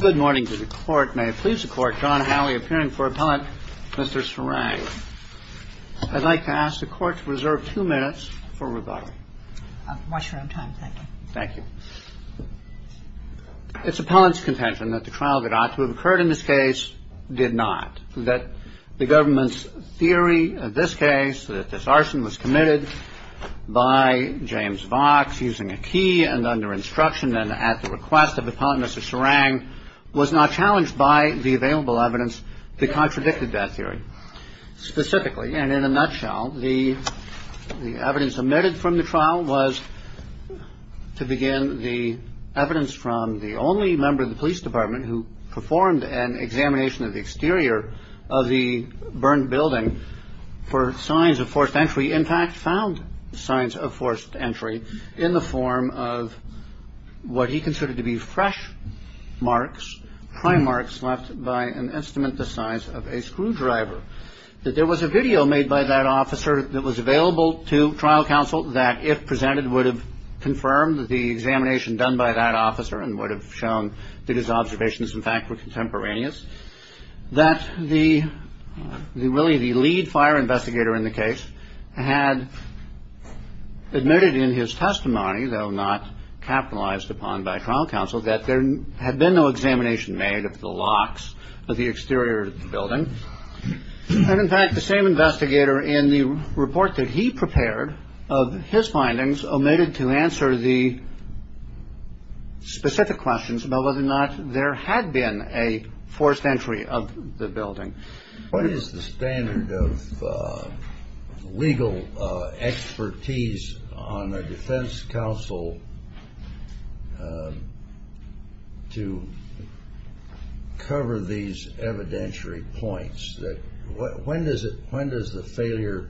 Good morning to the court. May it please the court, John Howley appearing for Appellant Mr. Serang. I'd like to ask the court to reserve two minutes for rebuttal. Watch your own time. Thank you. Thank you. It's Appellant's contention that the trial that ought to have occurred in this case did not, that the government's theory of this case, that this arson was committed by James Vox using a key and under instruction and at the request of Appellant Mr. Serang, was not challenged by the available evidence that contradicted that theory. Specifically, and in a nutshell, the evidence omitted from the trial was, to begin, the evidence from the only member of the police department who performed an examination of the exterior of the burned building for signs of forced entry, he in fact found signs of forced entry in the form of what he considered to be fresh marks, prime marks left by an estimate the size of a screwdriver. That there was a video made by that officer that was available to trial counsel that, if presented, would have confirmed the examination done by that officer and would have shown that his observations, in fact, were contemporaneous. That really the lead fire investigator in the case had admitted in his testimony, though not capitalized upon by trial counsel, that there had been no examination made of the locks of the exterior of the building. And, in fact, the same investigator in the report that he prepared of his findings omitted to answer the specific questions about whether or not there had been a forced entry of the building. What is the standard of legal expertise on a defense counsel to cover these evidentiary points? When does the failure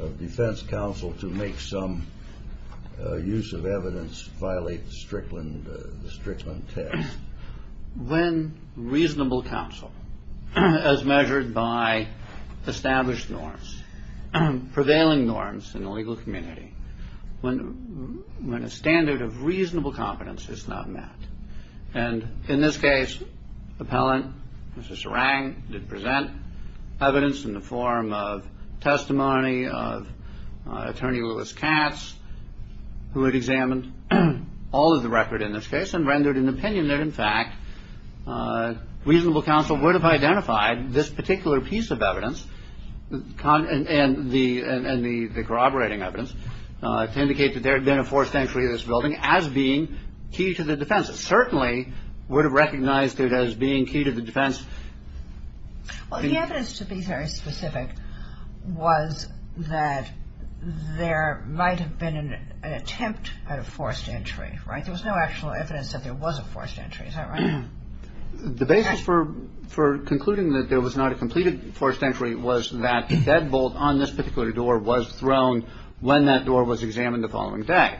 of defense counsel to make some use of evidence violate the Strickland test? When reasonable counsel, as measured by established norms, prevailing norms in the legal community, when a standard of reasonable competence is not met. And in this case, the appellant, Mr. Serang, did present evidence in the form of testimony of attorney Lewis Katz, who had examined all of the record in this case and rendered an opinion that, in fact, reasonable counsel would have identified this particular piece of evidence and the corroborating evidence to indicate that there had been a forced entry of this building as being key to the defense. It certainly would have recognized it as being key to the defense. Well, the evidence, to be very specific, was that there might have been an attempt at a forced entry, right? There was no actual evidence that there was a forced entry. Is that right? The basis for concluding that there was not a completed forced entry was that the deadbolt on this particular door was thrown when that door was examined the following day.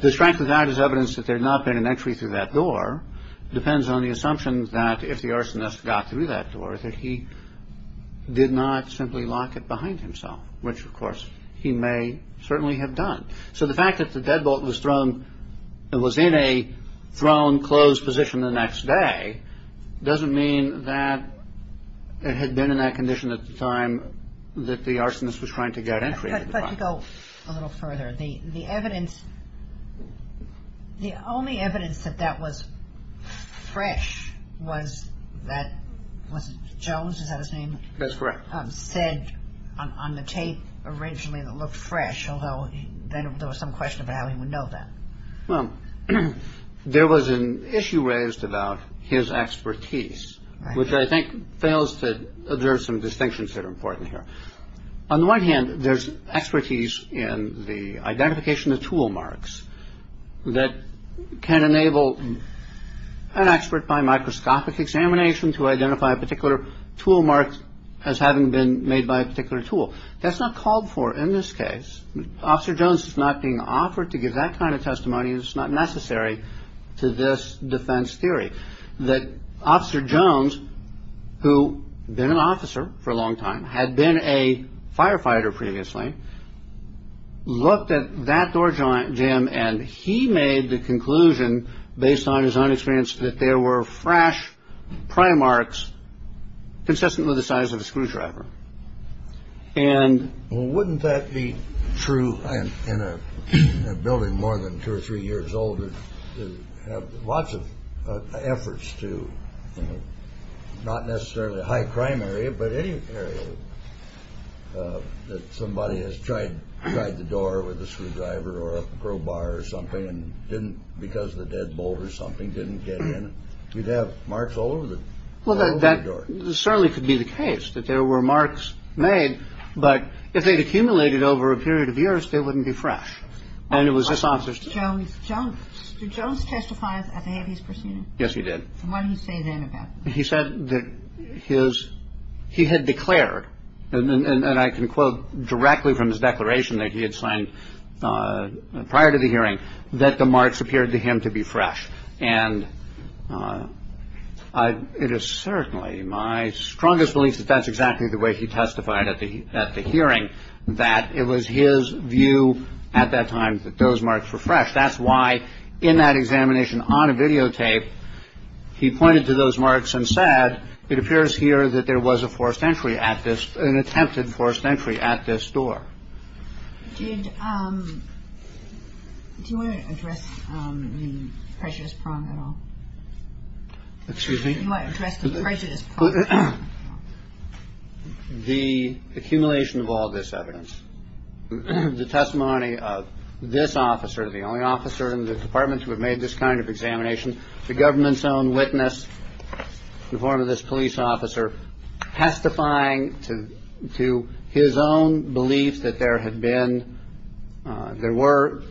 The strength of that is evidence that there had not been an entry through that door. It depends on the assumption that if the arsonist got through that door, that he did not simply lock it behind himself, which, of course, he may certainly have done. So the fact that the deadbolt was thrown and was in a thrown, closed position the next day doesn't mean that it had been in that condition at the time that the arsonist was trying to get entry. But to go a little further, the evidence, the only evidence that that was fresh was that Jones, is that his name? That's correct. Said on the tape originally that looked fresh, although then there was some question about how he would know that. Well, there was an issue raised about his expertise, which I think fails to observe some distinctions that are important here. On the one hand, there's expertise in the identification of tool marks that can enable an expert by microscopic examination to identify a particular tool mark as having been made by a particular tool. That's not called for in this case. Officer Jones is not being offered to give that kind of testimony. It's not necessary to this defense theory that Officer Jones, who had been an officer for a long time, had been a firefighter previously, looked at that door jam and he made the conclusion based on his own experience that there were fresh pry marks consistent with the size of a screwdriver. And wouldn't that be true in a building more than two or three years older, have lots of efforts to not necessarily a high crime area, but any area that somebody has tried tried the door with a screwdriver or a crowbar or something and didn't. Because the deadbolt or something didn't get in, you'd have marks all over the door. This certainly could be the case that there were marks made. But if they'd accumulated over a period of years, they wouldn't be fresh. And it was this officer Jones. Jones testifies. Yes, he did. He said that his he had declared. And I can quote directly from his declaration that he had signed prior to the hearing that the marks appeared to him to be fresh. And it is certainly my strongest belief that that's exactly the way he testified at the hearing, that it was his view at that time that those marks were fresh. That's why in that examination on a videotape, he pointed to those marks and said, it appears here that there was a forced entry at this an attempted forced entry at this door. Did you want to address the prejudice prong at all? Excuse me. I addressed the prejudice. The accumulation of all this evidence, the testimony of this officer, the only officer in the department to have made this kind of examination, the government's own witness in front of this police officer testifying to to his own belief that there had been. There were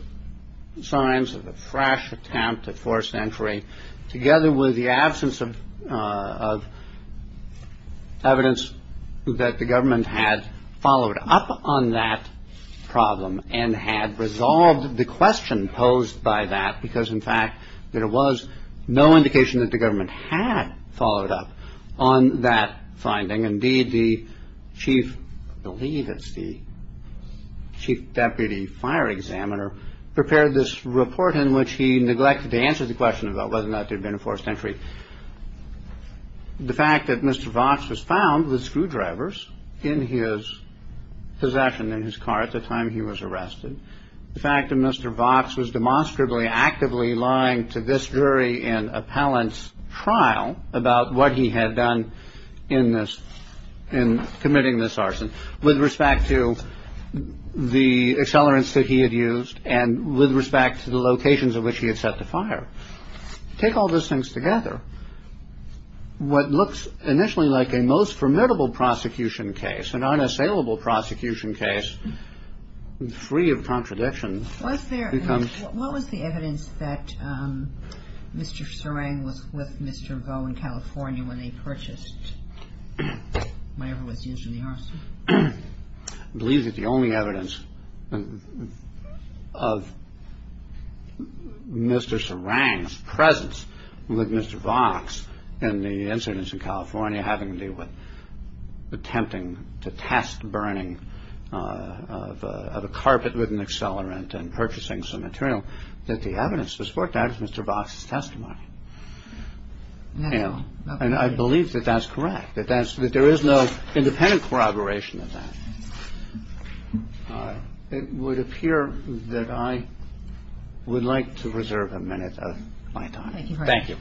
signs of a fresh attempt at forced entry together with the absence of. Evidence that the government had followed up on that problem and had resolved the question posed by that, because, in fact, there was no indication that the government had followed up on that finding. Indeed, the chief, I believe it's the chief deputy fire examiner, prepared this report in which he neglected to answer the question about whether or not there had been a forced entry. The fact that Mr. Vox was found with screwdrivers in his possession in his car at the time he was arrested. The fact that Mr. Vox was demonstrably actively lying to this jury in appellant's trial about what he had done in this. And committing this arson with respect to the accelerants that he had used and with respect to the locations of which he had set the fire. Take all those things together. What looks initially like a most formidable prosecution case, an unassailable prosecution case, free of contradiction. What was the evidence that Mr. Serang was with Mr. Vaux in California when they purchased whatever was used in the arson? I believe that the only evidence of Mr. Serang's presence with Mr. Vaux in the incidents in California, having to do with attempting to test burning of a carpet with an accelerant and purchasing some material, that the evidence was worked out with Mr. Vox's testimony. Now, and I believe that that's correct, that there is no independent corroboration of that. It would appear that I would like to reserve a minute of my time. Thank you.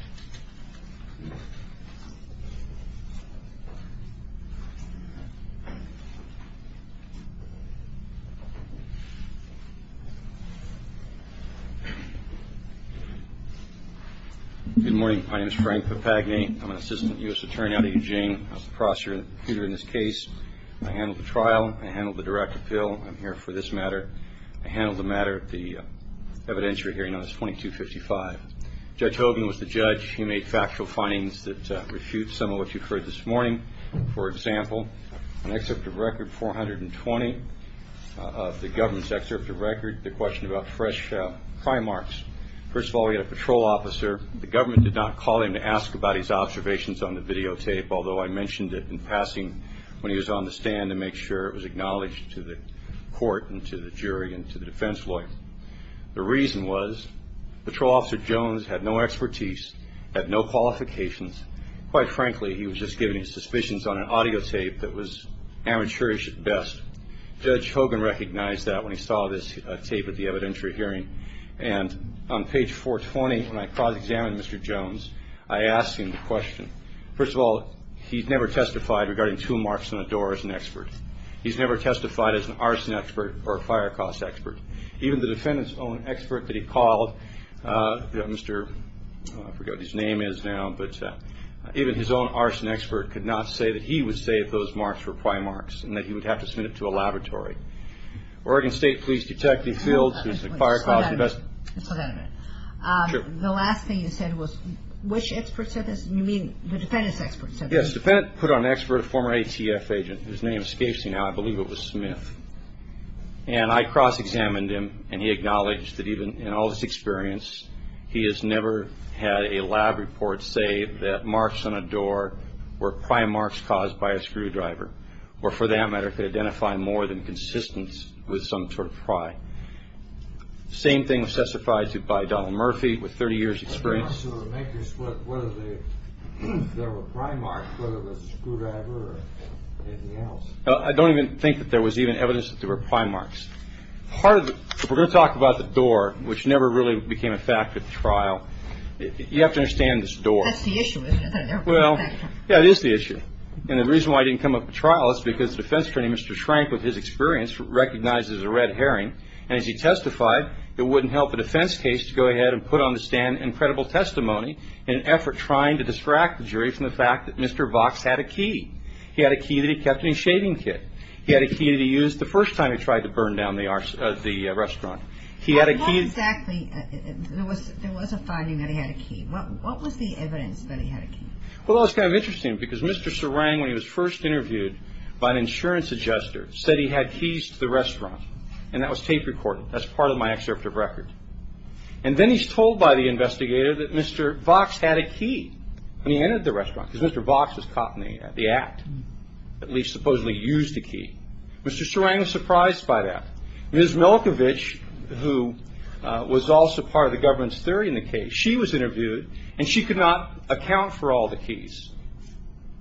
Good morning. My name is Frank Papagni. I'm an assistant U.S. attorney out of Eugene. I was the prosecutor in this case. I handled the trial. I handled the direct appeal. I'm here for this matter. I handled the matter at the evidentiary hearing on this 2255. Judge Hogan was the judge. He made factual findings that refute some of what you've heard this morning. For example, an excerpt of record 420 of the government's excerpt of record, the question about fresh crime marks. First of all, we had a patrol officer. The government did not call him to ask about his observations on the videotape, although I mentioned it in passing when he was on the stand to make sure it was acknowledged to the court and to the jury and to the defense lawyer. The reason was patrol officer Jones had no expertise, had no qualifications. Quite frankly, he was just giving his suspicions on an audio tape that was amateurish at best. Judge Hogan recognized that when he saw this tape at the evidentiary hearing. And on page 420, when I cross-examined Mr. Jones, I asked him the question. First of all, he's never testified regarding two marks on a door as an expert. He's never testified as an arson expert or a fire cause expert. Even the defendant's own expert that he called, I forget what his name is now, but even his own arson expert could not say that he would say if those marks were pry marks and that he would have to submit it to a laboratory. Oregon State Police Detective Fields, who's a fire cause investigator. The last thing you said was which expert said this? You mean the defendant's expert said this? Yes, the defendant put on expert a former ATF agent. His name escapes me now. I believe it was Smith. And I cross-examined him, and he acknowledged that even in all this experience, he has never had a lab report say that marks on a door were pry marks caused by a screwdriver or, for that matter, could identify more than consistence with some sort of pry. Same thing was testified to by Donald Murphy with 30 years' experience. So the markers, whether they were pry marks, whether it was a screwdriver or anything else. I don't even think that there was even evidence that they were pry marks. We're going to talk about the door, which never really became a fact at the trial. You have to understand this door. That's the issue, isn't it? Well, yeah, it is the issue. And the reason why it didn't come up at trial is because the defense attorney, Mr. Schrank, with his experience, recognizes a red herring, and as he testified, it wouldn't help a defense case to go ahead and put on the stand incredible testimony in an effort trying to distract the jury from the fact that Mr. Vox had a key. He had a key that he kept in his shaving kit. He had a key that he used the first time he tried to burn down the restaurant. He had a key. Well, not exactly. There was a finding that he had a key. What was the evidence that he had a key? Well, that's kind of interesting because Mr. Serang, when he was first interviewed by an insurance adjuster, said he had keys to the restaurant, and that was tape recorded. That's part of my excerpt of record. And then he's told by the investigator that Mr. Vox had a key when he entered the restaurant because Mr. Vox was caught in the act, at least supposedly used a key. Mr. Serang was surprised by that. Ms. Milkovich, who was also part of the government's theory in the case, she was interviewed, and she could not account for all the keys.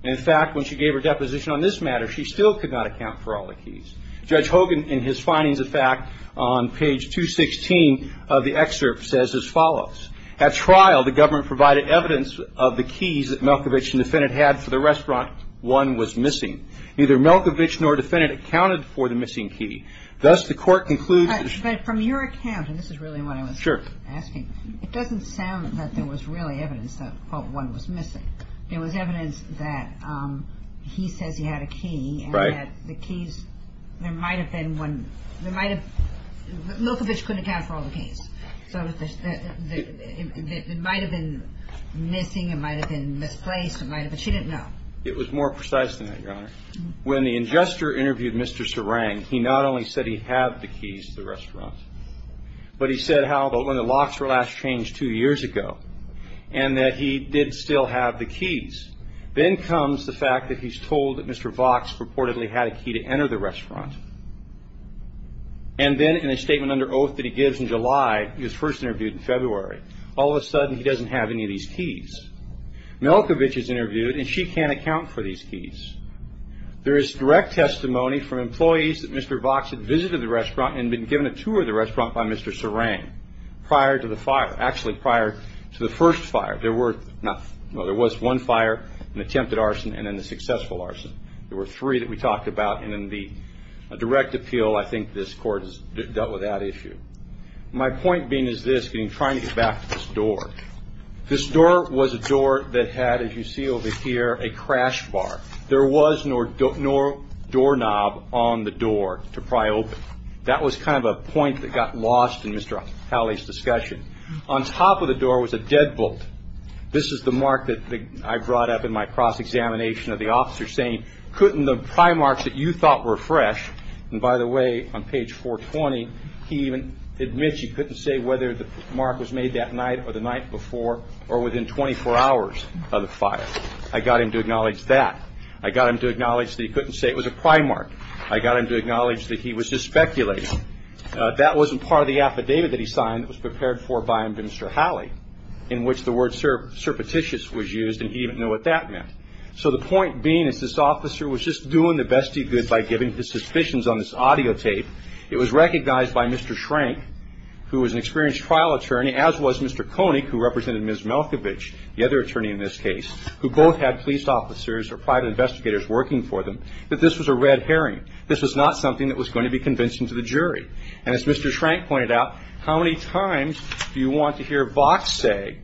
In fact, when she gave her deposition on this matter, she still could not account for all the keys. Judge Hogan, in his findings of fact, on page 216 of the excerpt, says as follows. At trial, the government provided evidence of the keys that Milkovich and defendant had for the restaurant. One was missing. Neither Milkovich nor defendant accounted for the missing key. Thus, the court concludes. But from your account, and this is really what I was asking, it doesn't sound that there was really evidence that one was missing. There was evidence that he says he had a key. Right. And that the keys, there might have been one, there might have, Milkovich couldn't account for all the keys. So it might have been missing, it might have been misplaced, it might have, but she didn't know. It was more precise than that, Your Honor. When the ingester interviewed Mr. Serang, he not only said he had the keys to the restaurant, but he said, how about when the locks were last changed two years ago, and that he did still have the keys. Then comes the fact that he's told that Mr. Vox purportedly had a key to enter the restaurant. And then in a statement under oath that he gives in July, he was first interviewed in February. All of a sudden, he doesn't have any of these keys. Milkovich is interviewed, and she can't account for these keys. There is direct testimony from employees that Mr. Vox had visited the restaurant and been given a tour of the restaurant by Mr. Serang prior to the fire, actually prior to the first fire. There were, well, there was one fire, an attempted arson, and then the successful arson. There were three that we talked about, and in the direct appeal, I think this Court has dealt with that issue. My point being is this, getting, trying to get back to this door. This door was a door that had, as you see over here, a crash bar. There was no doorknob on the door to pry open. That was kind of a point that got lost in Mr. Halley's discussion. On top of the door was a deadbolt. This is the mark that I brought up in my cross-examination of the officer saying, couldn't the pry marks that you thought were fresh, and by the way, on page 420, he even admits he couldn't say whether the mark was made that night or the night before or within 24 hours of the fire. I got him to acknowledge that. I got him to acknowledge that he couldn't say it was a pry mark. I got him to acknowledge that he was just speculating. That wasn't part of the affidavit that he signed that was prepared for by Mr. Halley, in which the word surreptitious was used, and he didn't know what that meant. So the point being is this officer was just doing the best he could by giving his suspicions on this audio tape. It was recognized by Mr. Schrank, who was an experienced trial attorney, as was Mr. Koenig, who represented Ms. Malkovich, the other attorney in this case, who both had police officers or private investigators working for them, that this was a red herring. This was not something that was going to be convinced into the jury. And as Mr. Schrank pointed out, how many times do you want to hear Vox say,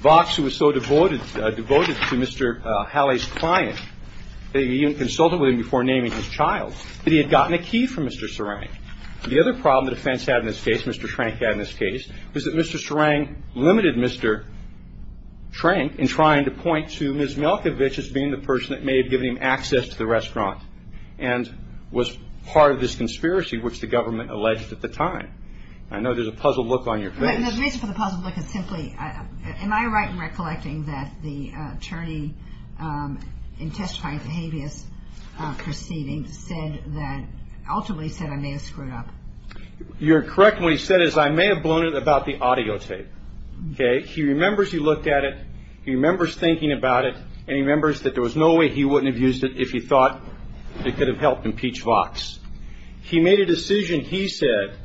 Vox, who was so devoted to Mr. Halley's client, that he even consulted with him before naming his child, that he had gotten a key from Mr. Serang? The other problem the defense had in this case, Mr. Schrank had in this case, was that Mr. Serang limited Mr. Schrank in trying to point to Ms. Malkovich as being the person that may have given him access to the restaurant and was part of this conspiracy which the government alleged at the time. The reason for the puzzled look is simply, am I right in recollecting that the attorney in testifying at the habeas proceeding ultimately said I may have screwed up? You're correct in what he said is I may have blown it about the audio tape. He remembers he looked at it, he remembers thinking about it, and he remembers that there was no way he wouldn't have used it if he thought it could have helped impeach Vox. He made a decision, he said,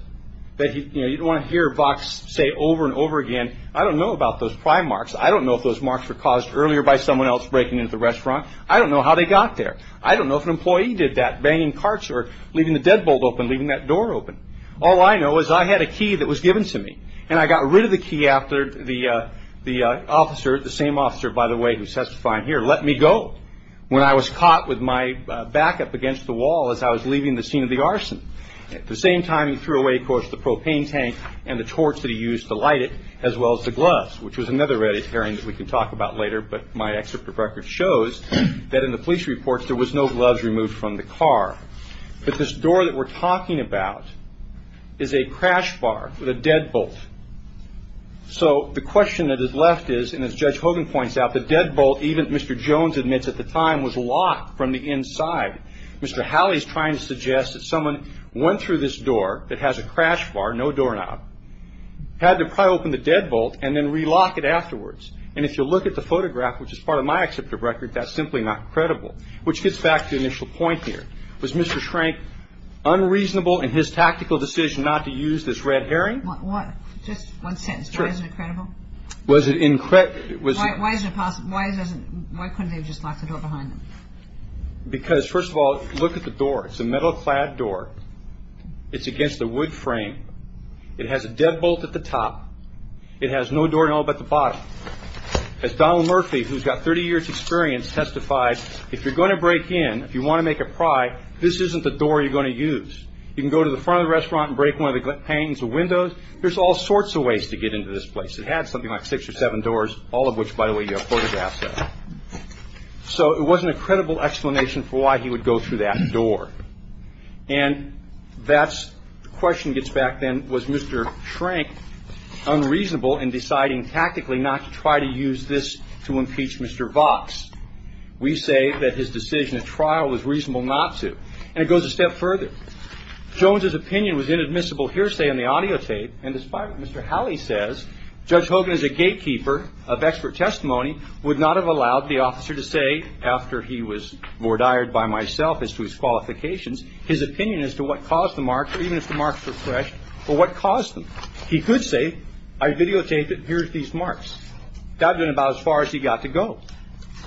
that you don't want to hear Vox say over and over again, I don't know about those pry marks, I don't know if those marks were caused earlier by someone else breaking into the restaurant, I don't know how they got there, I don't know if an employee did that, banging carts or leaving the deadbolt open, leaving that door open. All I know is I had a key that was given to me, and I got rid of the key after the officer, the same officer by the way who testified here, let me go. When I was caught with my backup against the wall as I was leaving the scene of the arson, at the same time he threw away, of course, the propane tank and the torch that he used to light it, as well as the gloves, which was another red herring that we can talk about later, but my excerpt of records shows that in the police reports there was no gloves removed from the car. But this door that we're talking about is a crash bar with a deadbolt. So the question that is left is, and as Judge Hogan points out, the deadbolt, even Mr. Jones admits at the time, was locked from the inside. Mr. Halley is trying to suggest that someone went through this door that has a crash bar, no doorknob, had to pry open the deadbolt and then relock it afterwards. And if you look at the photograph, which is part of my excerpt of records, that's simply not credible. Which gets back to the initial point here. Was Mr. Schrank unreasonable in his tactical decision not to use this red herring? Just one sentence. Why is it incredible? Why couldn't they have just locked the door behind them? Because, first of all, look at the door. It's a metal clad door. It's against a wood frame. It has a deadbolt at the top. It has no door at all but the bottom. As Donald Murphy, who's got 30 years' experience, testified, if you're going to break in, if you want to make a pry, this isn't the door you're going to use. You can go to the front of the restaurant and break one of the panes or windows. There's all sorts of ways to get into this place. It had something like six or seven doors, all of which, by the way, you have photographs of. So it wasn't a credible explanation for why he would go through that door. And that's the question gets back then. Was Mr. Schrank unreasonable in deciding tactically not to try to use this to impeach Mr. Vox? We say that his decision at trial was reasonable not to. And it goes a step further. Jones's opinion was inadmissible hearsay on the audio tape. And despite what Mr. Howley says, Judge Hogan is a gatekeeper of expert testimony, would not have allowed the officer to say after he was voir dired by myself as to his qualifications, his opinion as to what caused the marks, or even if the marks were fresh, or what caused them. He could say, I videotaped it and here's these marks. That would have been about as far as he got to go,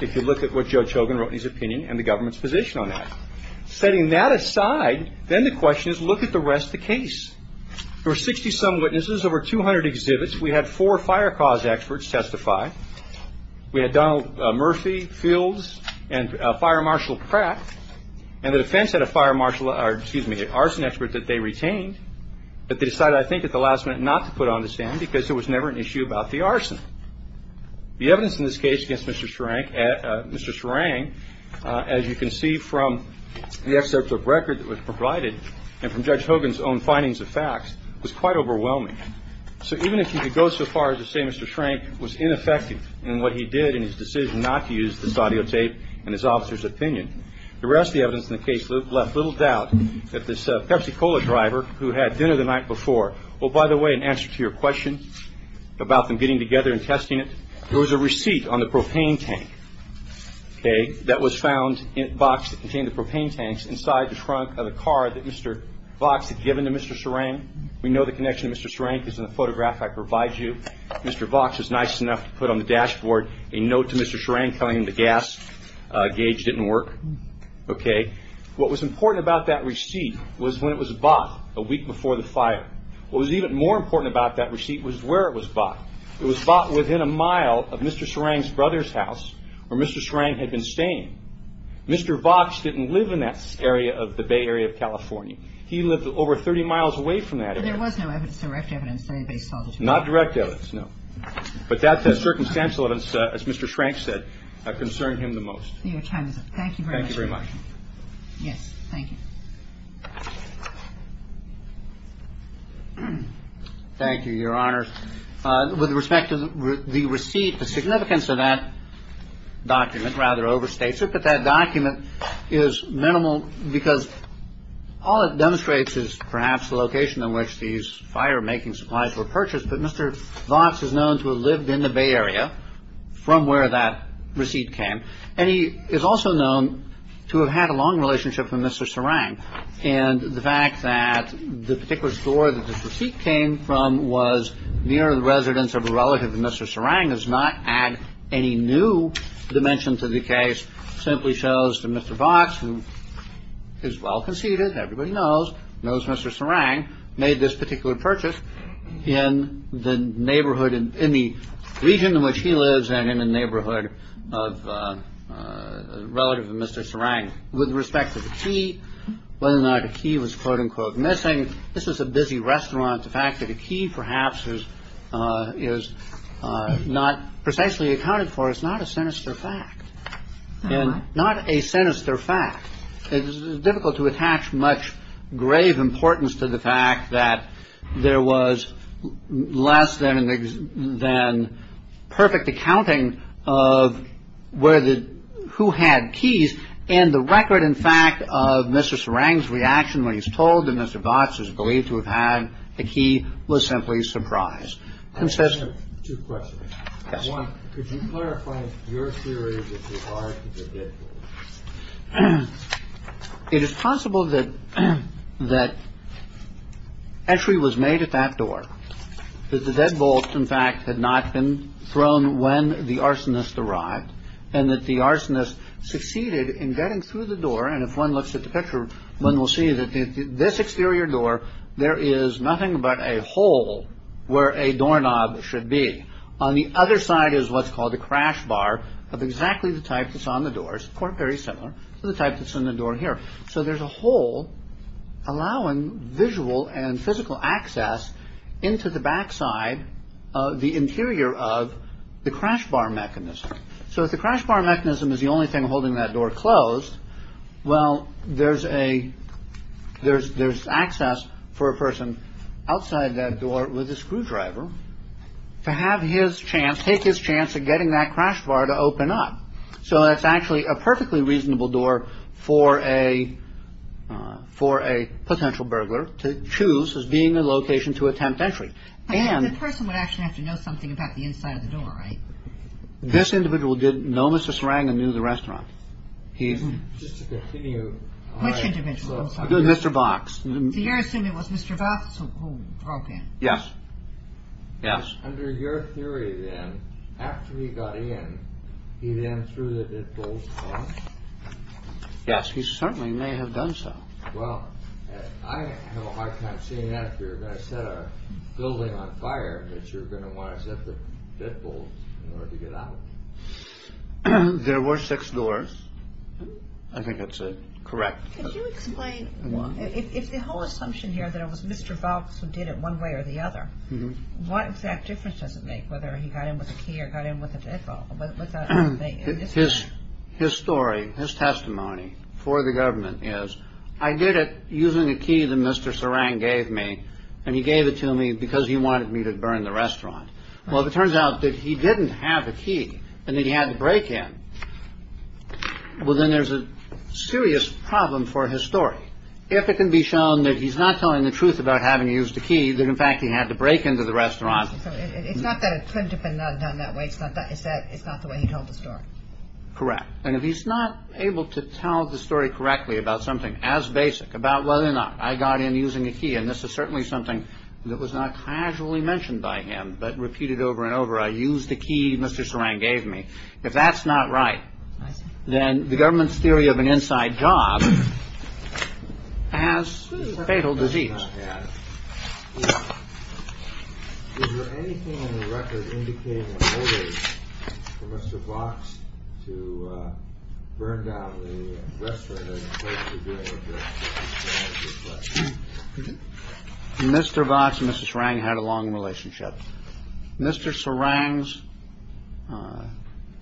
if you look at what Judge Hogan wrote in his opinion and the government's position on that. Setting that aside, then the question is, look at the rest of the case. There were 60-some witnesses, over 200 exhibits. We had four fire cause experts testify. We had Donald Murphy, Fields, and Fire Marshal Pratt. And the defense had a fire marshal, or excuse me, an arson expert that they retained, but they decided I think at the last minute not to put on the stand because there was never an issue about the arson. The evidence in this case against Mr. Schrank, Mr. Schrank, as you can see from the excerpt of record that was provided and from Judge Hogan's own findings of facts, was quite overwhelming. So even if you could go so far as to say Mr. Schrank was ineffective in what he did in his decision not to use this audio tape and his officer's opinion, the rest of the evidence in the case left little doubt that this Pepsi-Cola driver who had dinner the night before, well, by the way, in answer to your question about them getting together and testing it, there was a receipt on the propane tank that was found in a box that contained the propane tanks inside the trunk of a car that Mr. Vox had given to Mr. Schrank. We know the connection to Mr. Schrank is in the photograph I provide you. Mr. Vox was nice enough to put on the dashboard a note to Mr. Schrank telling him the gas gauge didn't work. What was important about that receipt was when it was bought a week before the fire. What was even more important about that receipt was where it was bought. It was bought within a mile of Mr. Schrank's brother's house where Mr. Schrank had been staying. Mr. Vox didn't live in that area of the Bay Area of California. He lived over 30 miles away from that area. But there was no evidence, direct evidence, that anybody saw the two cars? Not direct evidence, no. But that circumstantial, as Mr. Schrank said, concerned him the most. Your time is up. Thank you very much. Thank you very much. Yes, thank you. Thank you, Your Honors. With respect to the receipt, the significance of that document rather overstates it. But that document is minimal because all it demonstrates is perhaps the location in which these fire-making supplies were purchased. But Mr. Vox is known to have lived in the Bay Area from where that receipt came. And he is also known to have had a long relationship with Mr. Schrank. And the fact that the particular store that this receipt came from was near the residence of a relative of Mr. Schrank does not add any new dimension to the case. It simply shows that Mr. Vox, who is well-conceited, everybody knows, knows Mr. Schrank, made this particular purchase in the neighborhood, in the region in which he lives and in the neighborhood of a relative of Mr. Schrank. With respect to the key, whether or not the key was, quote, unquote, missing, this was a busy restaurant. The fact that a key perhaps is not precisely accounted for is not a sinister fact. And not a sinister fact. It is difficult to attach much grave importance to the fact that there was less than than perfect accounting of where the who had keys. And the record, in fact, of Mr. Schrank's reaction when he was told that Mr. Vox is believed to have had the key was simply surprised. And says two questions. Could you clarify your theory? It is possible that that entry was made at that door, that the deadbolt, in fact, had not been thrown when the arsonist arrived and that the arsonist succeeded in getting through the door. And if one looks at the picture, one will see that this exterior door, there is nothing but a hole where a doorknob should be. On the other side is what's called a crash bar of exactly the type that's on the doors. Quote, very similar to the type that's in the door here. So there's a hole allowing visual and physical access into the backside of the interior of the crash bar mechanism. So if the crash bar mechanism is the only thing holding that door closed. Well, there's a there's there's access for a person outside that door with a screwdriver to have his chance, take his chance of getting that crash bar to open up. So that's actually a perfectly reasonable door for a for a potential burglar to choose as being a location to attempt entry. And the person would actually have to know something about the inside of the door, right? This individual didn't know Mrs. Rangan knew the restaurant. He's just to continue. Which individual? Mr. Box. You're assuming it was Mr. Box who broke in. Yes. Yes. Under your theory, then, after he got in, he then threw the deadbolt. Yes, he certainly may have done so. Well, I have a hard time saying that you're going to set a building on fire that you're going to want to set the deadbolt to get out. There were six doors. I think that's correct. Could you explain if the whole assumption here that it was Mr. Box who did it one way or the other? What exact difference does it make whether he got in with a key or got in with a deadbolt? But his his story, his testimony for the government is I did it using a key that Mr. Sarang gave me and he gave it to me because he wanted me to burn the restaurant. Well, it turns out that he didn't have a key and he had to break in. Well, then there's a serious problem for his story. If it can be shown that he's not telling the truth about having used a key that, in fact, he had to break into the restaurant. It's not that it couldn't have been done that way. It's not that it's that it's not the way he told the story. Correct. And if he's not able to tell the story correctly about something as basic about whether or not I got in using a key. And this is certainly something that was not casually mentioned by him, but repeated over and over. I use the key. Mr. Sarang gave me. If that's not right, then the government's theory of an inside job has fatal disease. Is there anything in the record indicating a motive for Mr. Fox to burn down the restaurant? Mr. Vox, Mrs. Rang had a long relationship. Mr. Sarang's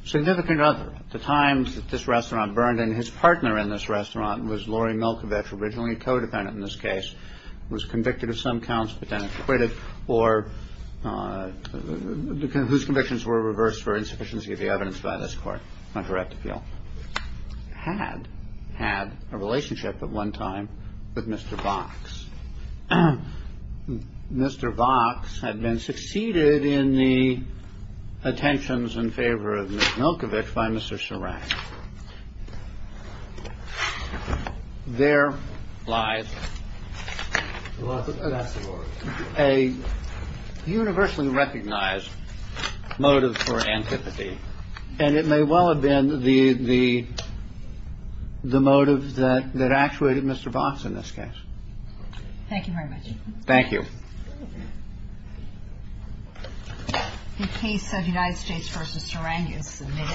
significant other at the times that this restaurant burned and his partner in this restaurant was Laurie Milkovich, originally a codependent in this case, was convicted of some counts, but then acquitted or whose convictions were reversed for insufficiency of the evidence by this court. Correct. Had had a relationship at one time with Mr. Box. Mr. Box had been succeeded in the attentions in favor of Milkovich by Mr. Sarang. There lies a universally recognized motive for antipathy, and it may well have been the the the motive that that actuated Mr. Box in this case. Thank you very much. Thank you. The case of the United States v. Sarang is submitted.